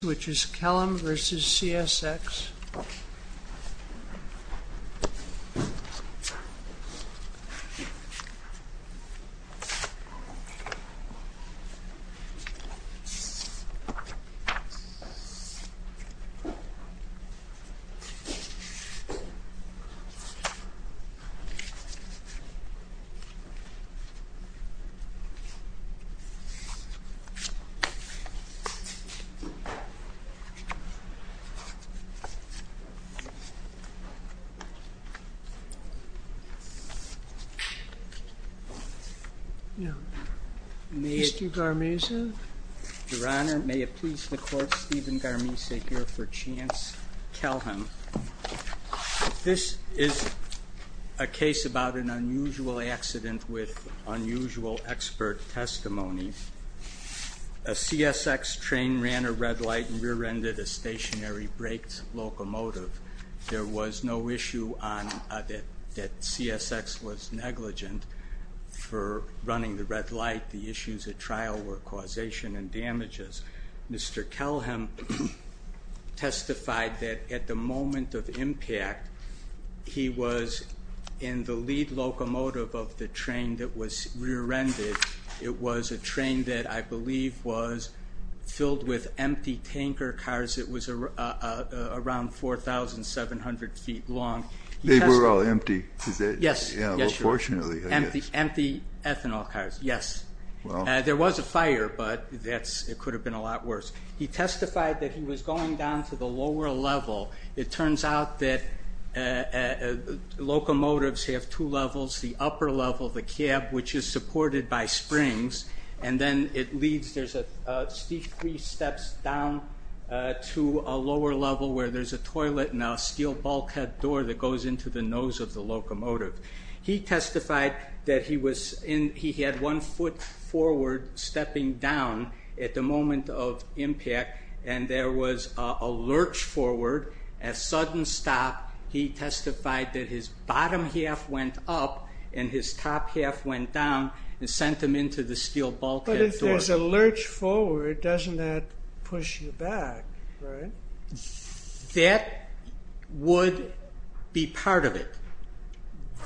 which is Kelham v. CSX. Mr. Garmisa? Your Honor, may it please the Court, Stephen Garmisa here for Chance Kelham. This is a case about an unusual accident with unusual expert testimony. A CSX train ran a red light and rear-ended a stationary brakes locomotive. There was no issue that CSX was negligent for running the red light. The issues at trial were causation and damages. Mr. Kelham testified that at the moment of impact, he was in the lead locomotive of the train that was rear-ended. It was a train that I believe was filled with empty tanker cars. It was around 4,700 feet long. They were all empty? Yes. Fortunately. Empty ethanol cars, yes. There was a fire, but it could have been a lot worse. He testified that he was going down to the lower level. It turns out that locomotives have two levels, the upper level, the cab, which is supported by springs, and then it leads, there's three steps down to a lower level where there's a toilet and a steel bulkhead door that goes into the nose of the locomotive. He testified that he had one foot forward stepping down at the moment of impact, and there was a lurch forward, a sudden stop. He testified that his bottom half went up and his top half went down and sent him into the steel bulkhead door. But if there's a lurch forward, doesn't that push you back, right? That would be part of it.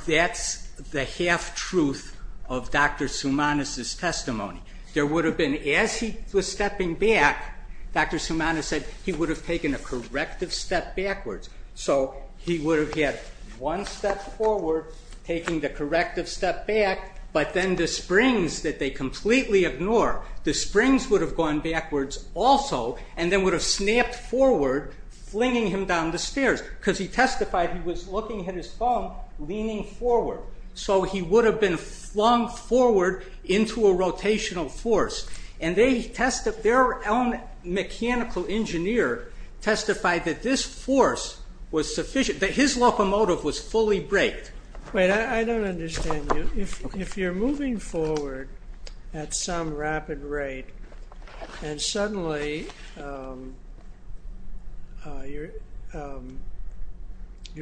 That's the half-truth of Dr. Soumanos' testimony. There would have been, as he was stepping back, Dr. Soumanos said he would have taken a corrective step backwards. So he would have had one step forward, taking the corrective step back, but then the springs that they completely ignore, the springs would have gone backwards also, and then would have snapped forward, flinging him down the stairs because he testified he was looking at his bum, leaning forward. So he would have been flung forward into a rotational force. Their own mechanical engineer testified that this force was sufficient, that his locomotive was fully braked. Wait, I don't understand you. If you're moving forward at some rapid rate and suddenly you're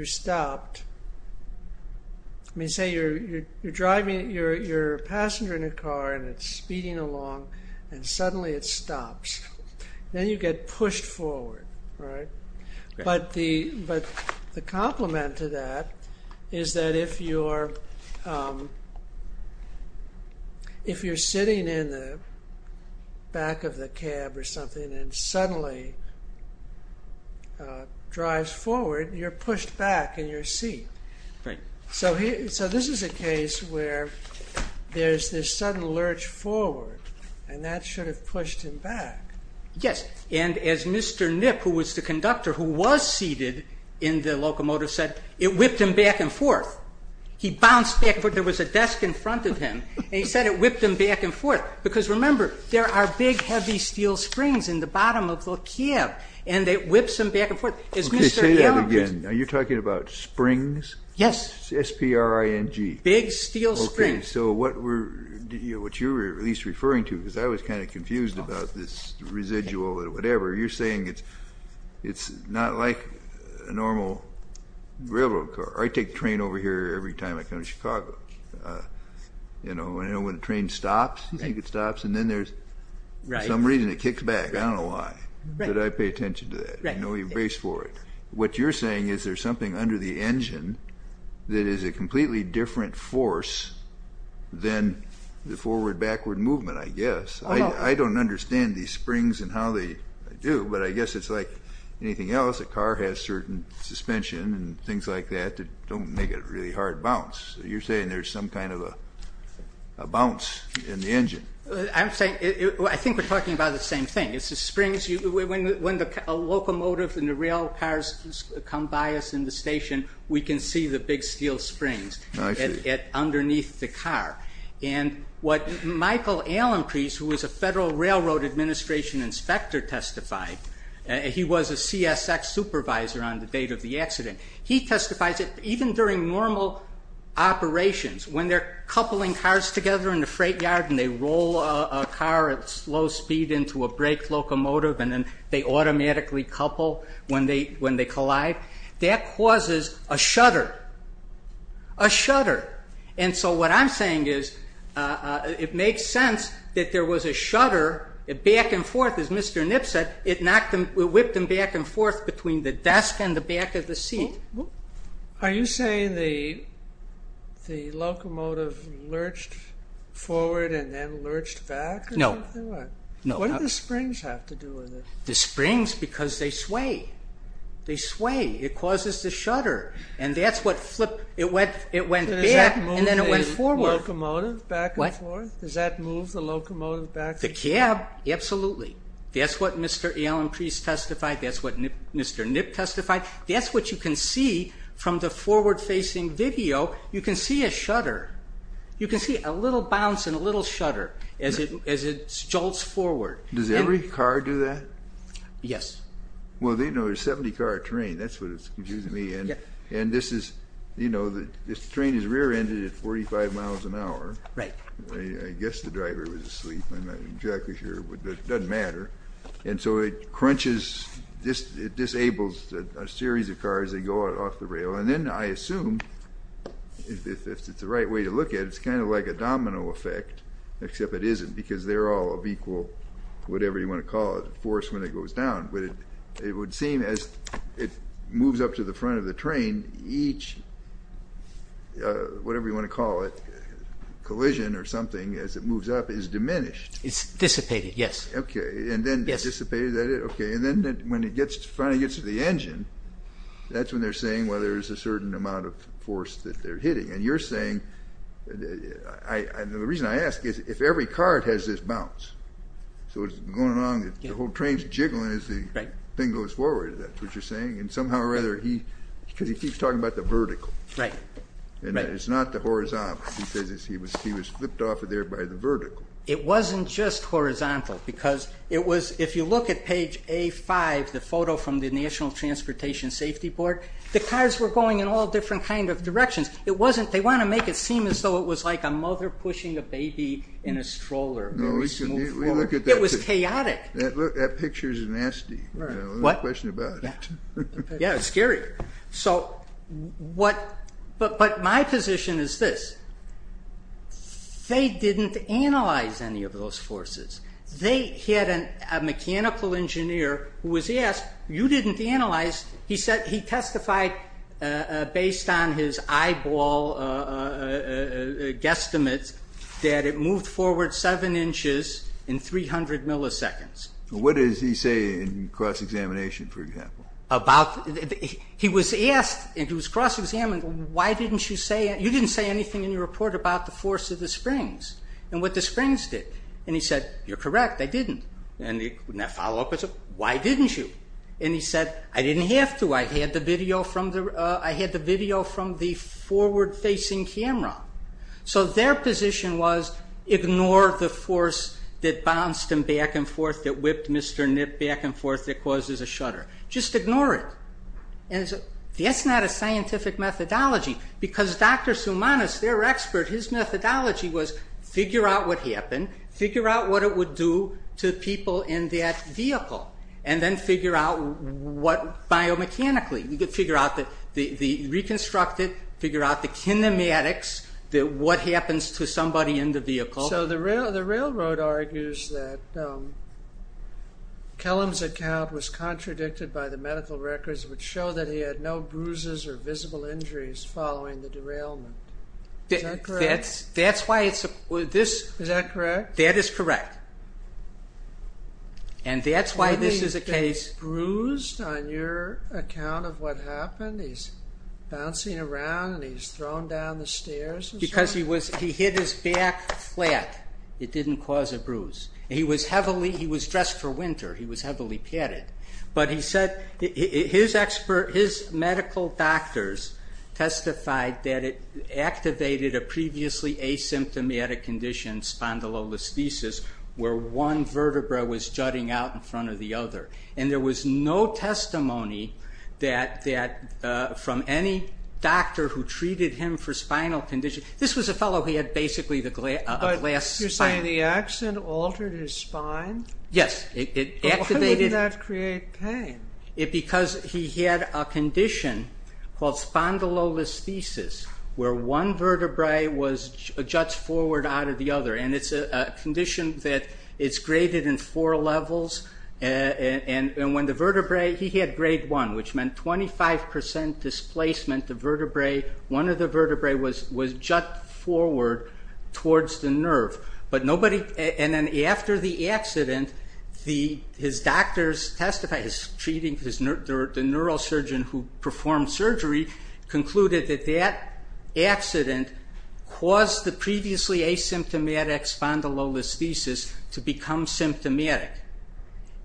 stopped, I mean, say you're driving, you're a passenger in a car and it's speeding along and suddenly it stops. Then you get pushed forward, right? But the complement to that is that if you're sitting in the back of the cab or something and it suddenly drives forward, you're pushed back in your seat. So this is a case where there's this sudden lurch forward and that should have pushed him back. Yes, and as Mr. Knipp, who was the conductor, who was seated in the locomotive, said it whipped him back and forth. He bounced back and forth. There was a desk in front of him and he said it whipped him back and forth because, remember, there are big heavy steel springs in the bottom of the cab and it whips him back and forth. Okay, say that again. Are you talking about springs? Yes. S-P-R-I-N-G. Big steel springs. Okay, so what you were at least referring to, because I was kind of confused about this residual or whatever, you're saying it's not like a normal railroad car. I take the train over here every time I come to Chicago. You know, when a train stops, you think it stops, and then there's some reason it kicks back. I don't know why, but I pay attention to that. I know you race for it. What you're saying is there's something under the engine that is a completely different force than the forward-backward movement, I guess. I don't understand these springs and how they do, but I guess it's like anything else. A car has certain suspension and things like that that don't make it a really hard bounce. You're saying there's some kind of a bounce in the engine. I think we're talking about the same thing. It's the springs. When a locomotive and the rail cars come by us in the station, we can see the big steel springs underneath the car. And what Michael Allencrease, who was a Federal Railroad Administration inspector, testified, he was a CSX supervisor on the date of the accident. He testifies that even during normal operations, when they're coupling cars together in the freight yard and they roll a car at slow speed into a brake locomotive and then they automatically couple when they collide, that causes a shudder. A shudder. And so what I'm saying is it makes sense that there was a shudder back and forth. As Mr. Nip said, it whipped them back and forth between the desk and the back of the seat. Are you saying the locomotive lurched forward and then lurched back? No. What do the springs have to do with it? The springs, because they sway. They sway. It causes the shudder. And that's what flipped. It went back and then it went forward. What? Does that move the locomotive back and forth? The cab, absolutely. That's what Mr. Allen Priest testified. That's what Mr. Nip testified. That's what you can see from the forward-facing video. You can see a shudder. You can see a little bounce and a little shudder as it jolts forward. Does every car do that? Yes. Well, there's 70-car train. That's what is confusing me. And this is, you know, this train is rear-ended at 45 miles an hour. Right. I guess the driver was asleep. I'm not exactly sure, but it doesn't matter. And so it crunches, it disables a series of cars that go off the rail. And then I assume, if it's the right way to look at it, it's kind of like a domino effect, except it isn't because they're all of equal, whatever you want to call it, force when it goes down. But it would seem as it moves up to the front of the train, each, whatever you want to call it, collision or something as it moves up is diminished. It's dissipated, yes. Okay, and then dissipated. Okay, and then when it finally gets to the engine, that's when they're saying, well, there's a certain amount of force that they're hitting. And you're saying, the reason I ask is, if every car has this bounce, so it's going along, the whole train's jiggling as the thing goes forward. Is that what you're saying? And somehow or other, because he keeps talking about the vertical. Right. And it's not the horizontal. He says he was flipped off of there by the vertical. It wasn't just horizontal because it was, if you look at page A-5, the photo from the National Transportation Safety Board, the cars were going in all different kind of directions. They want to make it seem as though it was like a mother pushing a baby in a stroller. No, we look at that. It was chaotic. That picture's nasty. What? There's no question about it. Yeah, it's scary. But my position is this. They didn't analyze any of those forces. They had a mechanical engineer who was asked, you didn't analyze. He testified, based on his eyeball guesstimates, that it moved forward seven inches in 300 milliseconds. What does he say in cross-examination, for example? He was asked, and he was cross-examined, you didn't say anything in your report about the force of the springs and what the springs did. And he said, you're correct, I didn't. And the follow-up was, why didn't you? And he said, I didn't have to. I had the video from the forward-facing camera. So their position was, ignore the force that bounced them back and forth, that whipped Mr. Nip back and forth, that causes a shutter. Just ignore it. That's not a scientific methodology. Because Dr. Soumanos, their expert, his methodology was figure out what happened, figure out what it would do to people in that vehicle, and then figure out what biomechanically. Reconstruct it, figure out the kinematics, what happens to somebody in the vehicle. So the railroad argues that Kellum's account was contradicted by the medical records which show that he had no bruises or visible injuries following the derailment. Is that correct? That's why it's a... Is that correct? That is correct. And that's why this is a case... ...of what happened? He's bouncing around and he's thrown down the stairs? Because he was... He hit his back flat. It didn't cause a bruise. He was heavily... He was dressed for winter. He was heavily padded. But he said his medical doctors testified that it activated a previously asymptomatic condition, spondylolisthesis, where one vertebra was jutting out in front of the other. And there was no testimony from any doctor who treated him for spinal condition. This was a fellow who had basically a glass spine. You're saying the accident altered his spine? Yes. Why would that create pain? Because he had a condition called spondylolisthesis, where one vertebrae juts forward out of the other. And it's a condition that is graded in four levels. And when the vertebrae... He had grade one, which meant 25% displacement of vertebrae. One of the vertebrae was jut forward towards the nerve. But nobody... And then after the accident, his doctors testified, his treating... The neurosurgeon who performed surgery concluded that that accident caused the previously asymptomatic spondylolisthesis to become symptomatic,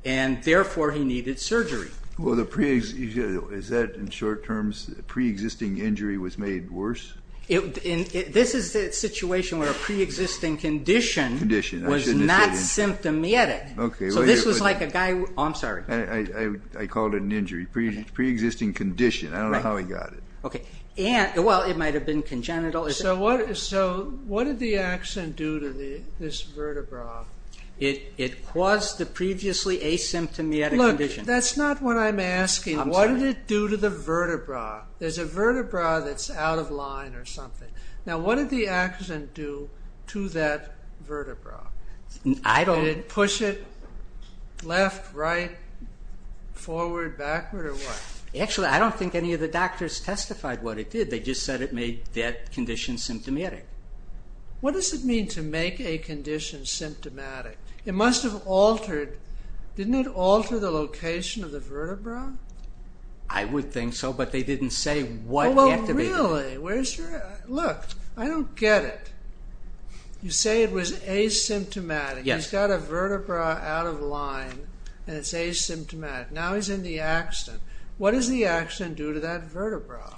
and therefore he needed surgery. Is that, in short terms, pre-existing injury was made worse? This is a situation where a pre-existing condition was not symptomatic. So this was like a guy... Oh, I'm sorry. I called it an injury. Pre-existing condition. I don't know how he got it. Well, it might have been congenital. So what did the accident do to this vertebra? It caused the previously asymptomatic condition. Look, that's not what I'm asking. I'm sorry. What did it do to the vertebra? There's a vertebra that's out of line or something. Now, what did the accident do to that vertebra? I don't... Did it push it left, right, forward, backward, or what? Actually, I don't think any of the doctors testified what it did. They just said it made that condition symptomatic. What does it mean to make a condition symptomatic? It must have altered... Didn't it alter the location of the vertebra? I would think so, but they didn't say what activated it. Really? Where's your... Look, I don't get it. You say it was asymptomatic. He's got a vertebra out of line, and it's asymptomatic. Now he's in the accident. What does the accident do to that vertebra?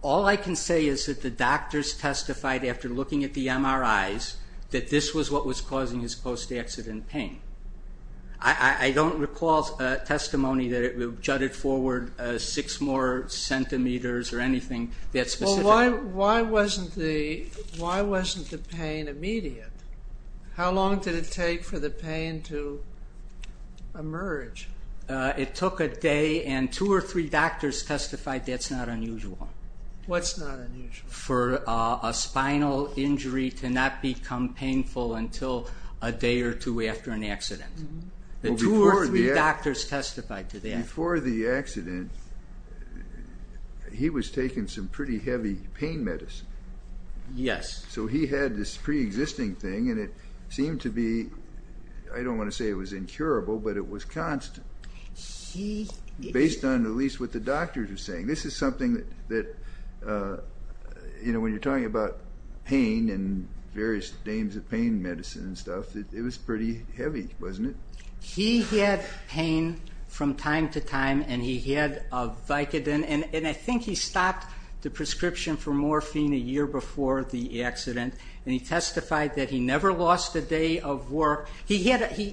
All I can say is that the doctors testified after looking at the MRIs that this was what was causing his post-accident pain. I don't recall testimony that it jutted forward 6 more centimeters or anything that specific. Well, why wasn't the pain immediate? How long did it take for the pain to emerge? It took a day, and 2 or 3 doctors testified that's not unusual. What's not unusual? For a spinal injury to not become painful until a day or 2 after an accident. The 2 or 3 doctors testified to that. Before the accident, he was taking some pretty heavy pain medicine. Yes. So he had this pre-existing thing, and it seemed to be, I don't want to say it was incurable, but it was constant, based on at least what the doctors were saying. This is something that when you're talking about pain and various names of pain medicine and stuff, it was pretty heavy, wasn't it? He had pain from time to time, and he had Vicodin. I think he stopped the prescription for morphine a year before the accident, and he testified that he never lost a day of work.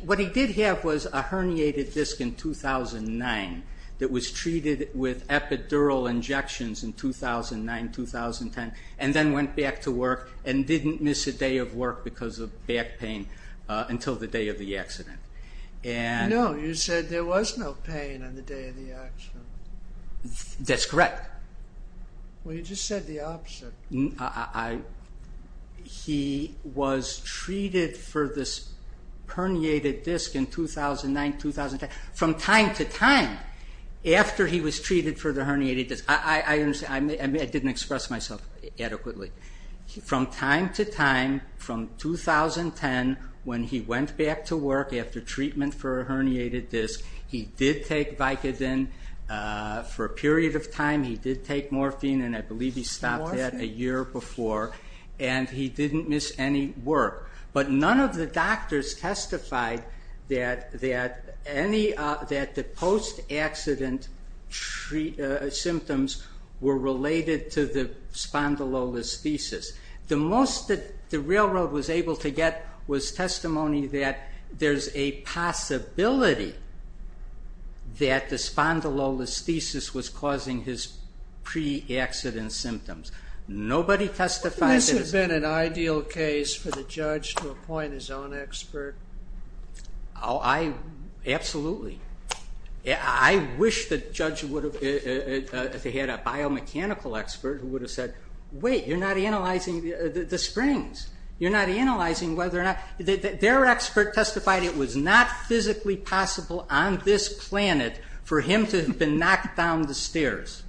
What he did have was a herniated disc in 2009 that was treated with epidural injections in 2009, 2010, and then went back to work and didn't miss a day of work because of back pain until the day of the accident. No, you said there was no pain on the day of the accident. That's correct. Well, you just said the opposite. He was treated for this herniated disc in 2009, 2010, from time to time after he was treated for the herniated disc. I didn't express myself adequately. From time to time from 2010 when he went back to work after treatment for a herniated disc, he did take Vicodin for a period of time. He did take morphine, and I believe he stopped that a year before, and he didn't miss any work. But none of the doctors testified that the post-accident symptoms were related to the spondylolisthesis. The most that the railroad was able to get was testimony that there's a possibility that the spondylolisthesis was causing his pre-accident symptoms. Nobody testified that it was. Wouldn't this have been an ideal case for the judge to appoint his own expert? Absolutely. I wish the judge had a biomechanical expert who would have said, wait, you're not analyzing the springs. You're not analyzing whether or not. Their expert testified it was not physically possible on this planet for him to have been knocked down the stairs.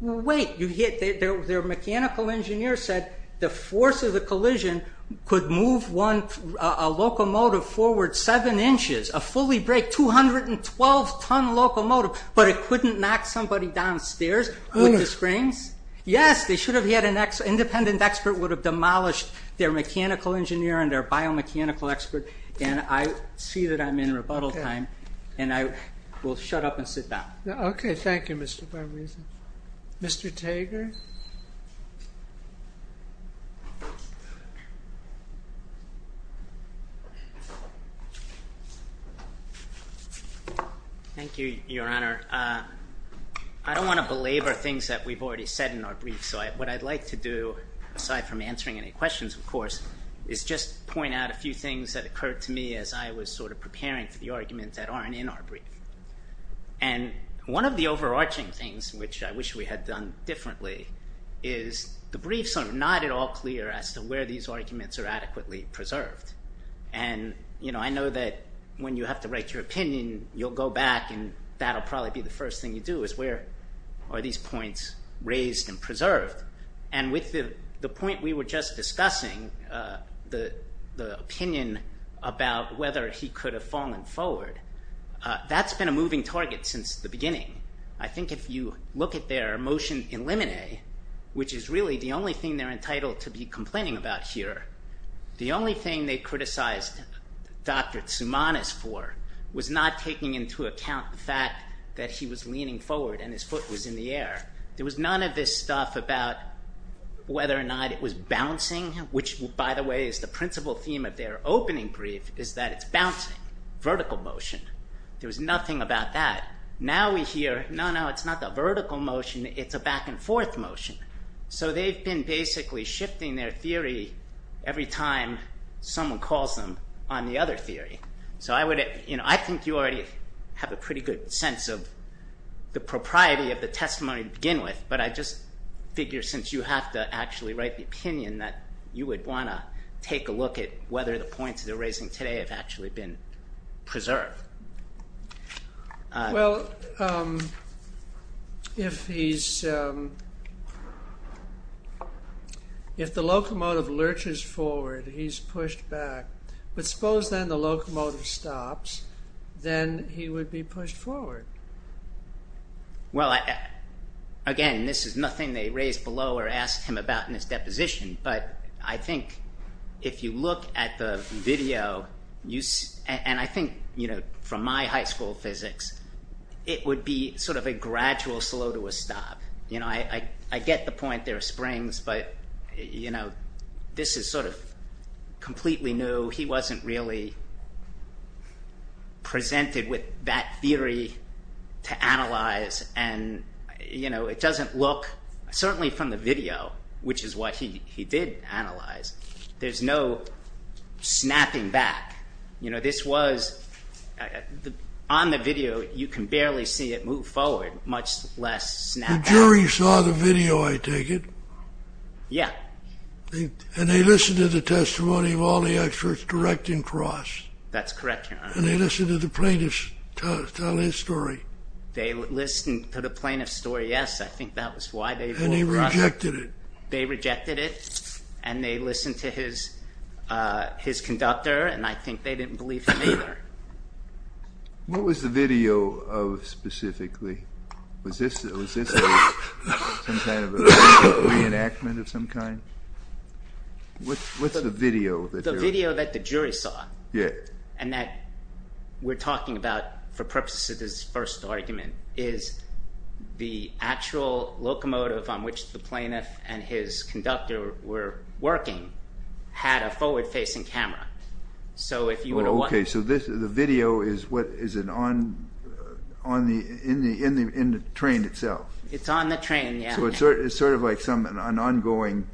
Wait, their mechanical engineer said the force of the collision could move a locomotive forward seven inches, a fully-braked 212-ton locomotive, but it couldn't knock somebody downstairs with the springs? Yes, they should have had an independent expert who would have demolished their mechanical engineer and their biomechanical expert, and I see that I'm in rebuttal time, and I will shut up and sit down. Okay, thank you, Mr. Barbarino. Mr. Tager? Thank you, Your Honor. I don't want to belabor things that we've already said in our brief, so what I'd like to do, aside from answering any questions, of course, is just point out a few things that occurred to me as I was sort of preparing for the arguments that aren't in our brief. And one of the overarching things, which I wish we had done differently, is the briefs are not at all clear as to where these arguments are adequately preserved. And I know that when you have to write your opinion, you'll go back, and that'll probably be the first thing you do, is where are these points raised and preserved? And with the point we were just discussing, the opinion about whether he could have fallen forward, that's been a moving target since the beginning. I think if you look at their motion in limine, which is really the only thing they're entitled to be complaining about here, the only thing they criticized Dr. Tsoumanos for was not taking into account the fact that he was leaning forward and his foot was in the air. There was none of this stuff about whether or not it was bouncing, which, by the way, is the principal theme of their opening brief, is that it's bouncing, vertical motion. There was nothing about that. Now we hear, no, no, it's not the vertical motion, it's a back-and-forth motion. So they've been basically shifting their theory every time someone calls them on the other theory. So I think you already have a pretty good sense of the propriety of the testimony to begin with, but I just figure since you have to actually write the opinion that you would want to take a look at whether the points they're raising today have actually been preserved. Well, if he's... If the locomotive lurches forward, he's pushed back, but suppose then the locomotive stops, then he would be pushed forward. Well, again, this is nothing they raised below or asked him about in his deposition, but I think if you look at the video, and I think from my high school physics, it would be sort of a gradual slow to a stop. I get the point, there are springs, but this is sort of completely new. He wasn't really presented with that theory to analyze, and it doesn't look... Certainly from the video, which is what he did analyze, there's no snapping back. You know, this was... On the video, you can barely see it move forward, much less snap back. The jury saw the video, I take it? Yeah. And they listened to the testimony of all the experts direct and cross? That's correct, Your Honor. And they listened to the plaintiff tell his story? They listened to the plaintiff's story, yes. I think that was why they... And they rejected it? They rejected it, and they listened to his conductor, and I think they didn't believe him either. What was the video of specifically? Was this some kind of a reenactment of some kind? What's the video? The video that the jury saw, and that we're talking about for purposes of this first argument, is the actual locomotive on which the plaintiff and his conductor were working had a forward-facing camera. Okay, so the video is in the train itself? It's on the train, yeah. So it's sort of like an ongoing...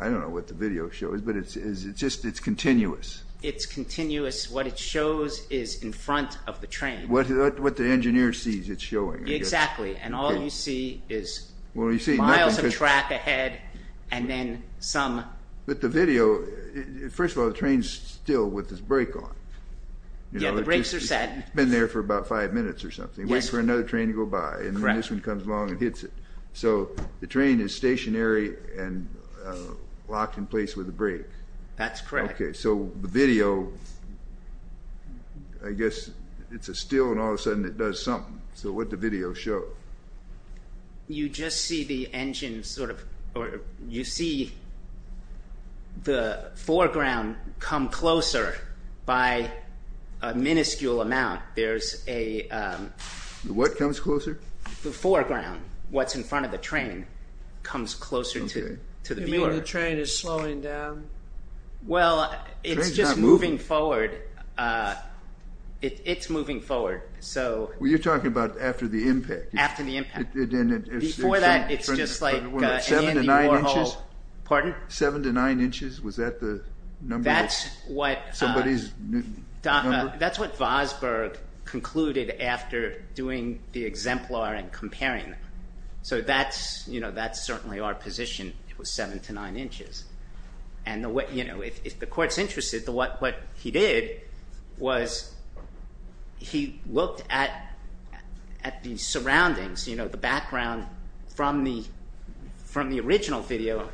I don't know what the video shows, but it's just continuous? It's continuous. What it shows is in front of the train. What the engineer sees it's showing, I guess. Exactly, and all you see is miles of track ahead, and then some... But the video, first of all, the train's still with its brake on. Yeah, the brakes are set. It's been there for about five minutes or something, waiting for another train to go by, and then this one comes along and hits it. So the train is stationary and locked in place with a brake. That's correct. Okay, so the video, I guess it's still, and all of a sudden it does something. So what did the video show? You just see the engine sort of... You see the foreground come closer by a minuscule amount. There's a... What comes closer? The foreground, what's in front of the train, comes closer to the viewer. You mean the train is slowing down? Well, it's just moving forward. It's moving forward. Well, you're talking about after the impact. After the impact. Before that, it's just like Andy Warhol. Seven to nine inches? Pardon? Seven to nine inches? Was that the number of somebody's number? That's what Vosburgh concluded after doing the exemplar and comparing them. So that's certainly our position. It was seven to nine inches. If the court's interested, what he did was he looked at the surroundings, the background from the original video,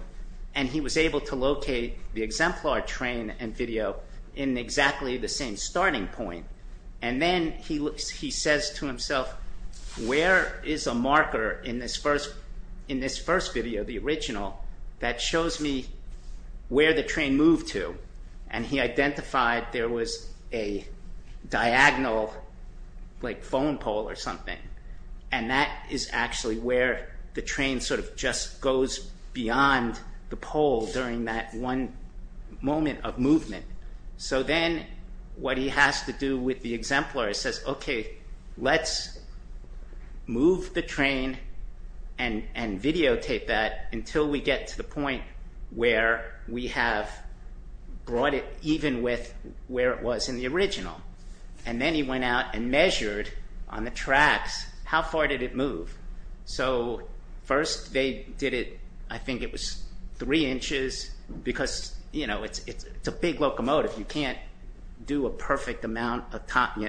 and he was able to locate the exemplar train and video in exactly the same starting point. And then he says to himself, where is a marker in this first video, the original, that shows me where the train moved to? And he identified there was a diagonal, like, phone pole or something. And that is actually where the train sort of just goes beyond the pole during that one moment of movement. So then what he has to do with the exemplar is says, okay, let's move the train and videotape that until we get to the point where we have brought it even with where it was in the original. And then he went out and measured on the tracks how far did it move. So first they did it, I think it was three inches, because it's a big locomotive. You can't do a perfect amount.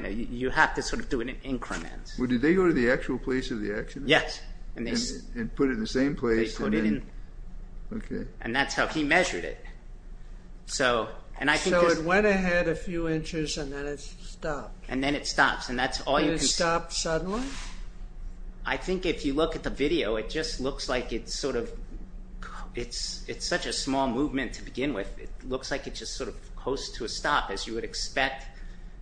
You have to sort of do it in increments. Well, did they go to the actual place of the accident? Yes. And put it in the same place? They put it in. Okay. And that's how he measured it. So it went ahead a few inches and then it stopped. And then it stops. And then it stops suddenly? I think if you look at the video, it just looks like it's sort of, it's such a small movement to begin with. It looks like it just sort of hosts to a stop, as you would expect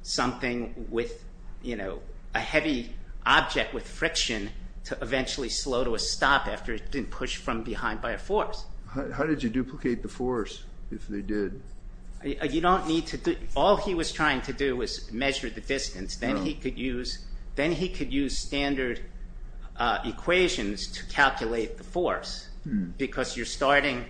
something with, you know, a heavy object with friction to eventually slow to a stop after it didn't push from behind by a force. How did you duplicate the force if they did? You don't need to. All he was trying to do was measure the distance. Then he could use standard equations to calculate the force, because you're starting,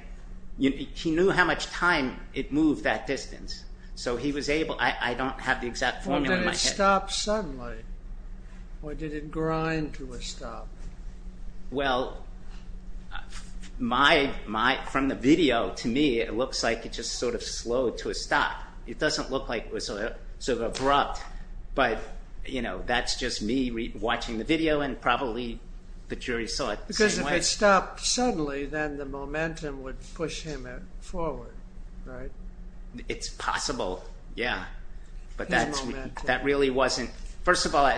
he knew how much time it moved that distance. So he was able, I don't have the exact formula in my head. Well, did it stop suddenly? Or did it grind to a stop? Well, from the video, to me, it looks like it just sort of slowed to a stop. It doesn't look like it was sort of abrupt, but, you know, that's just me watching the video and probably the jury saw it the same way. Because if it stopped suddenly, then the momentum would push him forward, right? It's possible, yeah. But that really wasn't... First of all,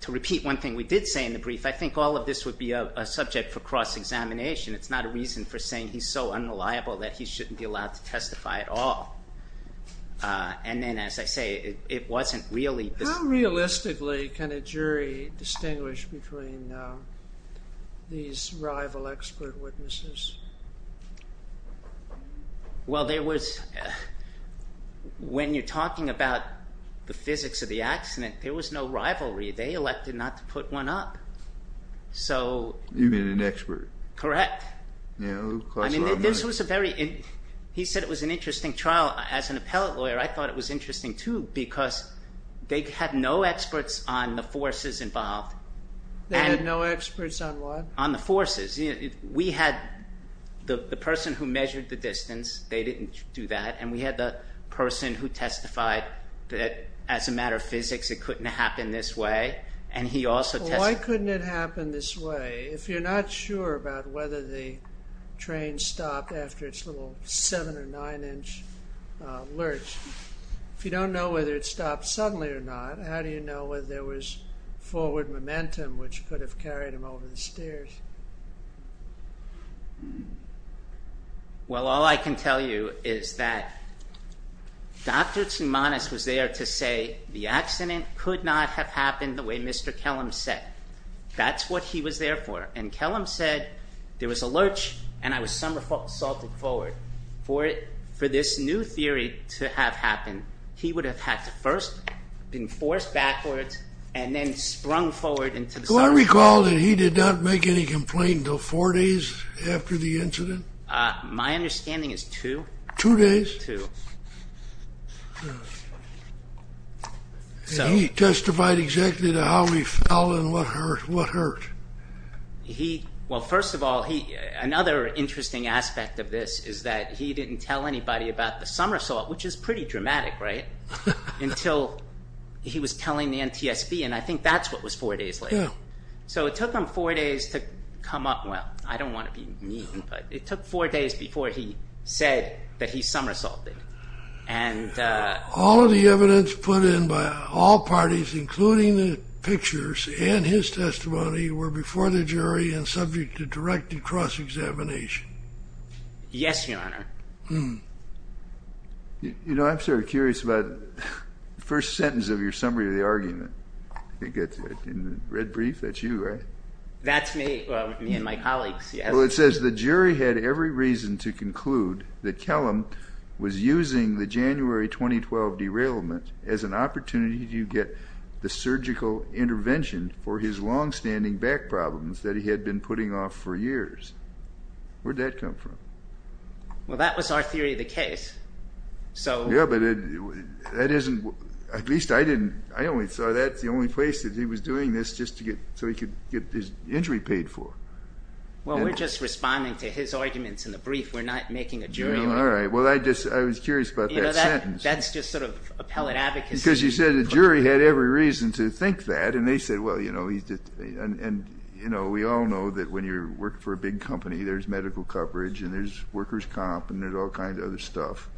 to repeat one thing we did say in the brief, I think all of this would be a subject for cross-examination. It's not a reason for saying he's so unreliable that he shouldn't be allowed to testify at all. And then, as I say, it wasn't really... How realistically can a jury distinguish between these rival expert witnesses? Well, there was... When you're talking about the physics of the accident, there was no rivalry. They elected not to put one up. So... You mean an expert? Correct. Yeah, who costs a lot of money. I mean, this was a very... He said it was an interesting trial. As an appellate lawyer, I thought it was interesting, too, because they had no experts on the forces involved. They had no experts on what? On the forces. We had the person who measured the distance. They didn't do that. And we had the person who testified that, as a matter of physics, it couldn't happen this way. And he also testified... Why couldn't it happen this way? If you're not sure about whether the train stopped after its little seven- or nine-inch lurch, if you don't know whether it stopped suddenly or not, how do you know whether there was forward momentum which could have carried him over the stairs? Well, all I can tell you is that Dr. Tsoumanos was there to say the accident could not have happened the way Mr. Kellum said. That's what he was there for. And Kellum said there was a lurch, and I was somersaulting forward for this new theory to have happened. He would have had to first have been forced backwards and then sprung forward into the... Do I recall that he did not make any complaint until four days after the incident? My understanding is two. Two days? Two. And he testified exactly to how he fell and what hurt? He... Well, first of all, another interesting aspect of this is that he didn't tell anybody about the somersault, which is pretty dramatic, right? Until he was telling the NTSB, and I think that's what was four days later. So it took him four days to come up... Well, I don't want to be mean, but it took four days before he said that he somersaulted. And... All of the evidence put in by all parties, including the pictures and his testimony, were before the jury and subject to direct and cross-examination. Yes, Your Honor. Hmm. You know, I'm sort of curious about the first sentence of your summary of the argument. I think it's in the red brief. That's you, right? That's me and my colleagues, yes. Well, it says, the jury had every reason to conclude that Kellum was using the January 2012 derailment as an opportunity to get the surgical intervention for his long-standing back problems that he had been putting off for years. Where did that come from? Well, that was our theory of the case. So... Yeah, but that isn't... At least I didn't... I only saw that as the only place that he was doing this just to get... so he could get his injury paid for. Well, we're just responding to his arguments in the brief. We're not making a jury... No, all right. Well, I just... I was curious about that sentence. You know, that's just sort of appellate advocacy. Because you said the jury had every reason to think that, and they said, well, you know, he's just... and, you know, we all know that when you work for a big company, there's medical coverage and there's workers' comp and there's all kinds of other stuff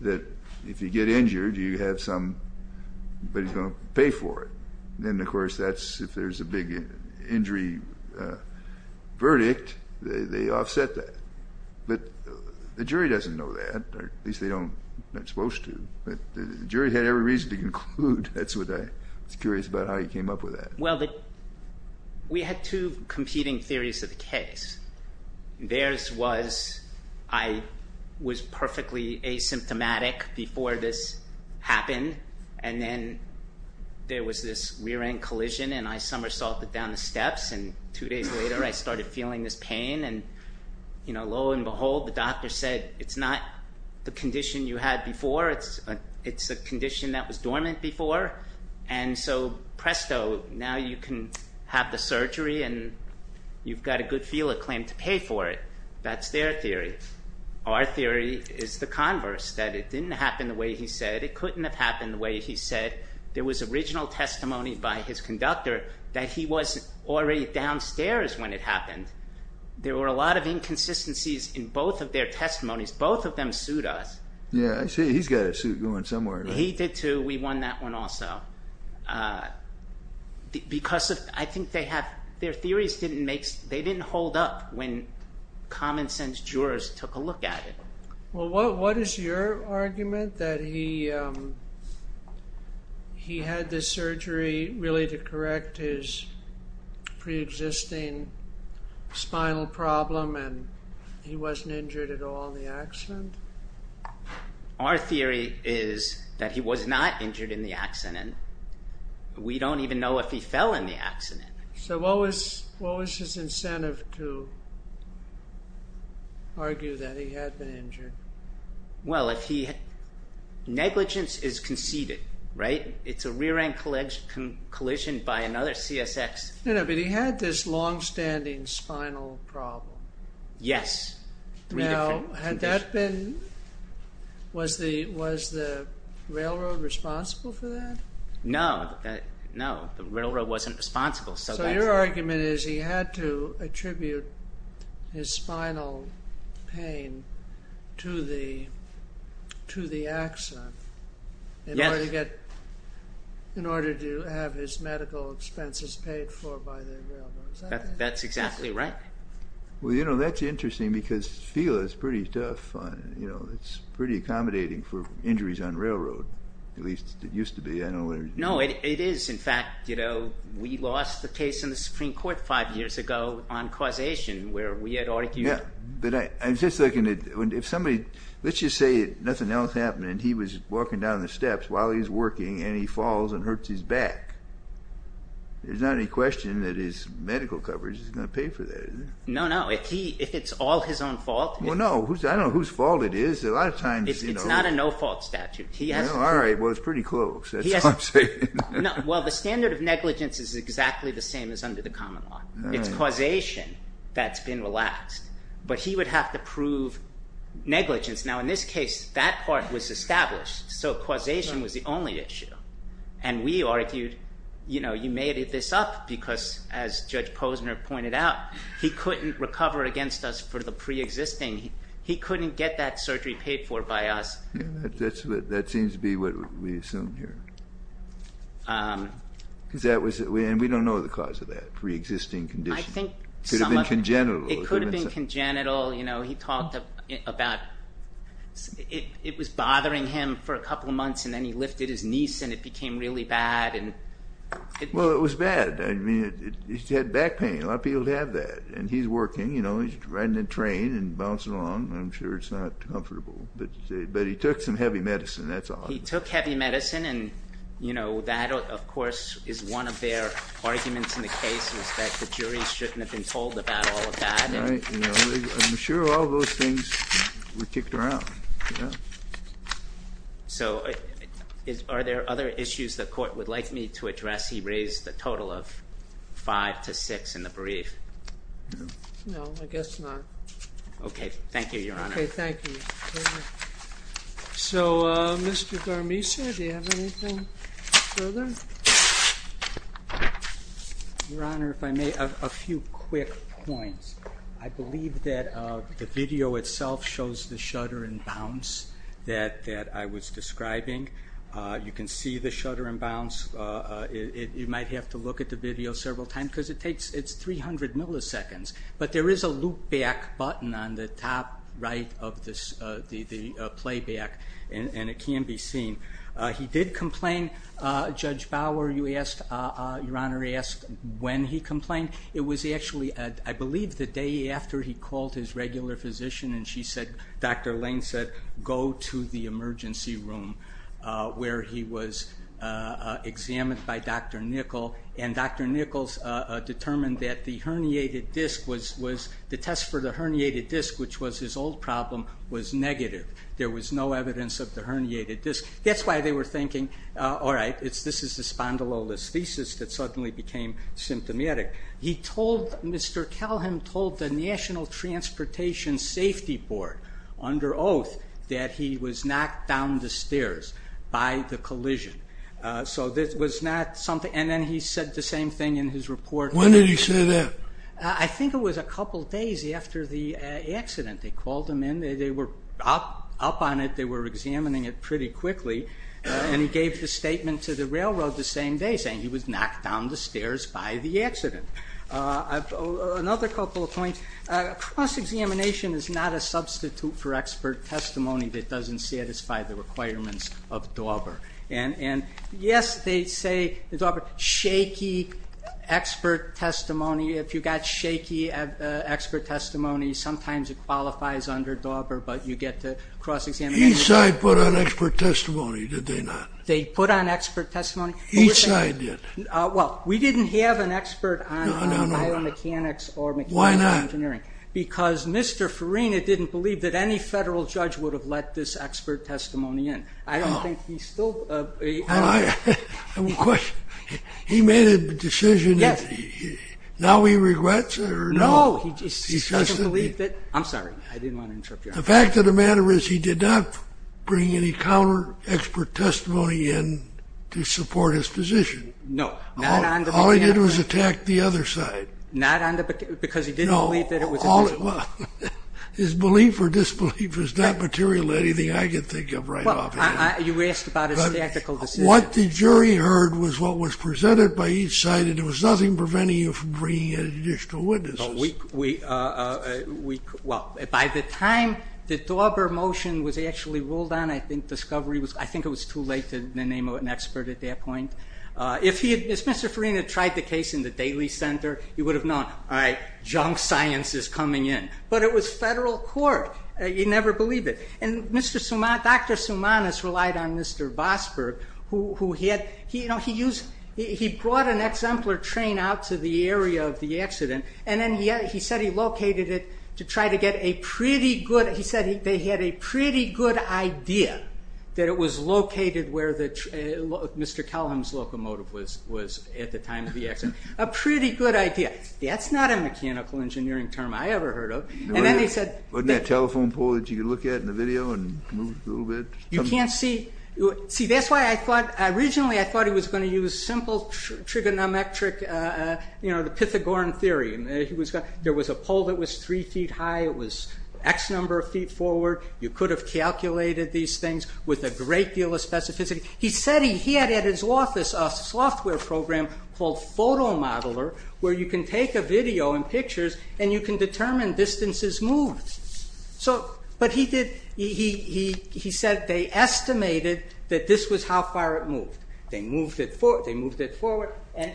that if you get injured, you have somebody who's going to pay for it. And, of course, that's... if there's a big injury verdict, they offset that. But the jury doesn't know that. At least they don't... they're not supposed to. But the jury had every reason to conclude. That's what I... I was curious about how you came up with that. Well, we had two competing theories of the case. Theirs was I was perfectly asymptomatic before this happened, and then there was this rear-end collision and I somersaulted down the steps, and two days later I started feeling this pain. And, you know, lo and behold, the doctor said, it's not the condition you had before, it's a condition that was dormant before. And so, presto, now you can have the surgery and you've got a good feeler claiming to pay for it. That's their theory. Our theory is the converse, that it didn't happen the way he said, it couldn't have happened the way he said. There was original testimony by his conductor that he was already downstairs when it happened. There were a lot of inconsistencies in both of their testimonies. Both of them sued us. Yeah, I see. He's got a suit going somewhere. He did too. We won that one also. Because of, I think they have, their theories didn't make, they didn't hold up when common sense jurors took a look at it. Well, what is your argument that he had this surgery really to correct his pre-existing spinal problem and he wasn't injured at all in the accident? Our theory is that he was not injured in the accident. We don't even know if he fell in the accident. So what was his incentive to argue that he had been injured? Well, negligence is conceded, right? It's a rear-end collision by another CSX. But he had this long-standing spinal problem. Yes. Now, had that been, was the railroad responsible for that? No. No, the railroad wasn't responsible. So your argument is he had to attribute his spinal pain to the accident in order to have his medical expenses paid for by the railroad. Is that it? That's exactly right. Well, you know, that's interesting because it feels pretty tough. You know, it's pretty accommodating for injuries on railroad, at least it used to be. I don't know whether... No, it is. In fact, you know, we lost the case in the Supreme Court five years ago on causation where we had argued... Yeah, but I'm just looking at, if somebody, let's just say nothing else happened and he was walking down the steps while he's working and he falls and hurts his back, there's not any question that his medical coverage is going to pay for that, is there? No, no. If it's all his own fault... Well, no. I don't know whose fault it is. A lot of times, you know... It's not a no-fault statute. All right. Well, it's pretty close. That's all I'm saying. Well, the standard of negligence is exactly the same as under the common law. It's causation that's been relaxed. But he would have to prove negligence. Now, in this case, that part was established. So causation was the only issue. And we argued, you know, you made this up because, as Judge Posner pointed out, he couldn't recover against us for the pre-existing. He couldn't get that surgery paid for by us. That seems to be what we assume here. Because that was... And we don't know the cause of that pre-existing condition. I think... It could have been congenital. It could have been congenital. You know, he talked about it was bothering him for a couple of months, and then he lifted his knees, and it became really bad. Well, it was bad. I mean, he had back pain. A lot of people have that. And he's working, you know. He's riding a train and bouncing along. I'm sure it's not comfortable. But he took some heavy medicine. That's all. He took heavy medicine. And, you know, that, of course, is one of their arguments in the case is that the jury shouldn't have been told about all of that. Right. And I'm sure all those things were kicked around. So are there other issues the court would like me to address? He raised a total of five to six in the brief. No, I guess not. Okay. Thank you, Your Honor. Okay, thank you. So, Mr. Garmisa, do you have anything further? Your Honor, if I may, a few quick points. I believe that the video itself shows the shudder and bounce that I was describing. You can see the shudder and bounce. You might have to look at the video several times because it's 300 milliseconds. But there is a loopback button on the top right of the playback. And it can be seen. He did complain. Judge Bauer, Your Honor, asked when he complained. It was actually, I believe, the day after he called his regular physician and she said, Dr. Lane said, go to the emergency room where he was examined by Dr. Nichols. And Dr. Nichols determined that the test for the herniated disc, which was his old problem, was negative. There was no evidence of the herniated disc. That's why they were thinking, all right, this is the spondylolisthesis that suddenly became symptomatic. He told, Mr. Kelham told the National Transportation Safety Board under oath that he was knocked down the stairs by the collision. So this was not something... And then he said the same thing in his report. When did he say that? I think it was a couple days after the accident. They called him in. They were up on it. They were examining it pretty quickly. And he gave the statement to the railroad the same day saying he was knocked down the stairs by the accident. Another couple of points. Cross-examination is not a substitute for expert testimony that doesn't satisfy the requirements of Dauber. And yes, they say in Dauber, shaky expert testimony. If you got shaky expert testimony, sometimes it qualifies under Dauber, but you get the cross-examination. Each side put on expert testimony, did they not? They put on expert testimony. Each side did. Well, we didn't have an expert on biomechanics or mechanical engineering. Why not? Because Mr. Farina didn't believe that any federal judge would have let this expert testimony in. I don't think he still... I have a question. He made a decision. Yes. Now he regrets it or no? No. He still doesn't believe that... I'm sorry. I didn't want to interrupt you. The fact of the matter is he did not bring any counter expert testimony in to support his position. No. All he did was attack the other side. Not on the... Because he didn't believe that it was... His belief or disbelief is not material to anything I can think of right now. You asked about his tactical decision. What the jury heard was what was presented by each side and it was nothing preventing you from bringing in additional witnesses. We... Well, by the time the Dauber motion was actually ruled on, I think discovery was... I can't remember the name of an expert at that point. If Mr. Farina tried the case in the Daily Center, he would have known, all right, junk science is coming in. But it was federal court. He never believed it. And Dr. Soumanis relied on Mr. Vosburgh who he had... He brought an exemplar train out to the area of the accident and then he said he located it to try to get a pretty good... He said they had a pretty good idea that it was located where Mr. Calhoun's locomotive was at the time of the accident. A pretty good idea. That's not a mechanical engineering term I ever heard of. And then he said... Wasn't that telephone pole that you could look at in the video and move a little bit? You can't see... See, that's why I thought... Originally, I thought he was going to use simple trigonometric, you know, the Pythagorean theory. There was a pole that was three feet high. It was X number of feet forward. You could have calculated these things with a great deal of specificity. He said he had at his office a software program called Photomodeler where you can take a video and pictures and you can determine distances moved. So... But he did... He said they estimated that this was how far it moved. They moved it forward. They moved it forward. Was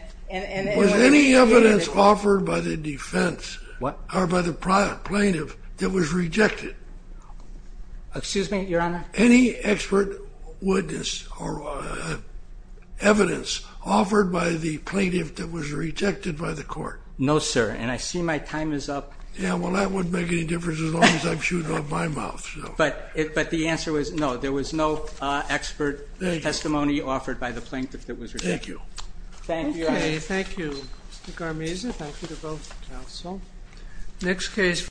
any evidence offered by the defense or by the plaintiff that was rejected? Excuse me, Your Honor? Any expert witness or evidence offered by the plaintiff that was rejected by the court? No, sir. And I see my time is up. Yeah, well, that wouldn't make any difference as long as I'm shooting off my mouth. But the answer was no. There was no expert testimony offered by the plaintiff that was rejected. Thank you. Thank you, Your Honor. Thank you, Mr. Garmese. Thank you to both counsel. Next case...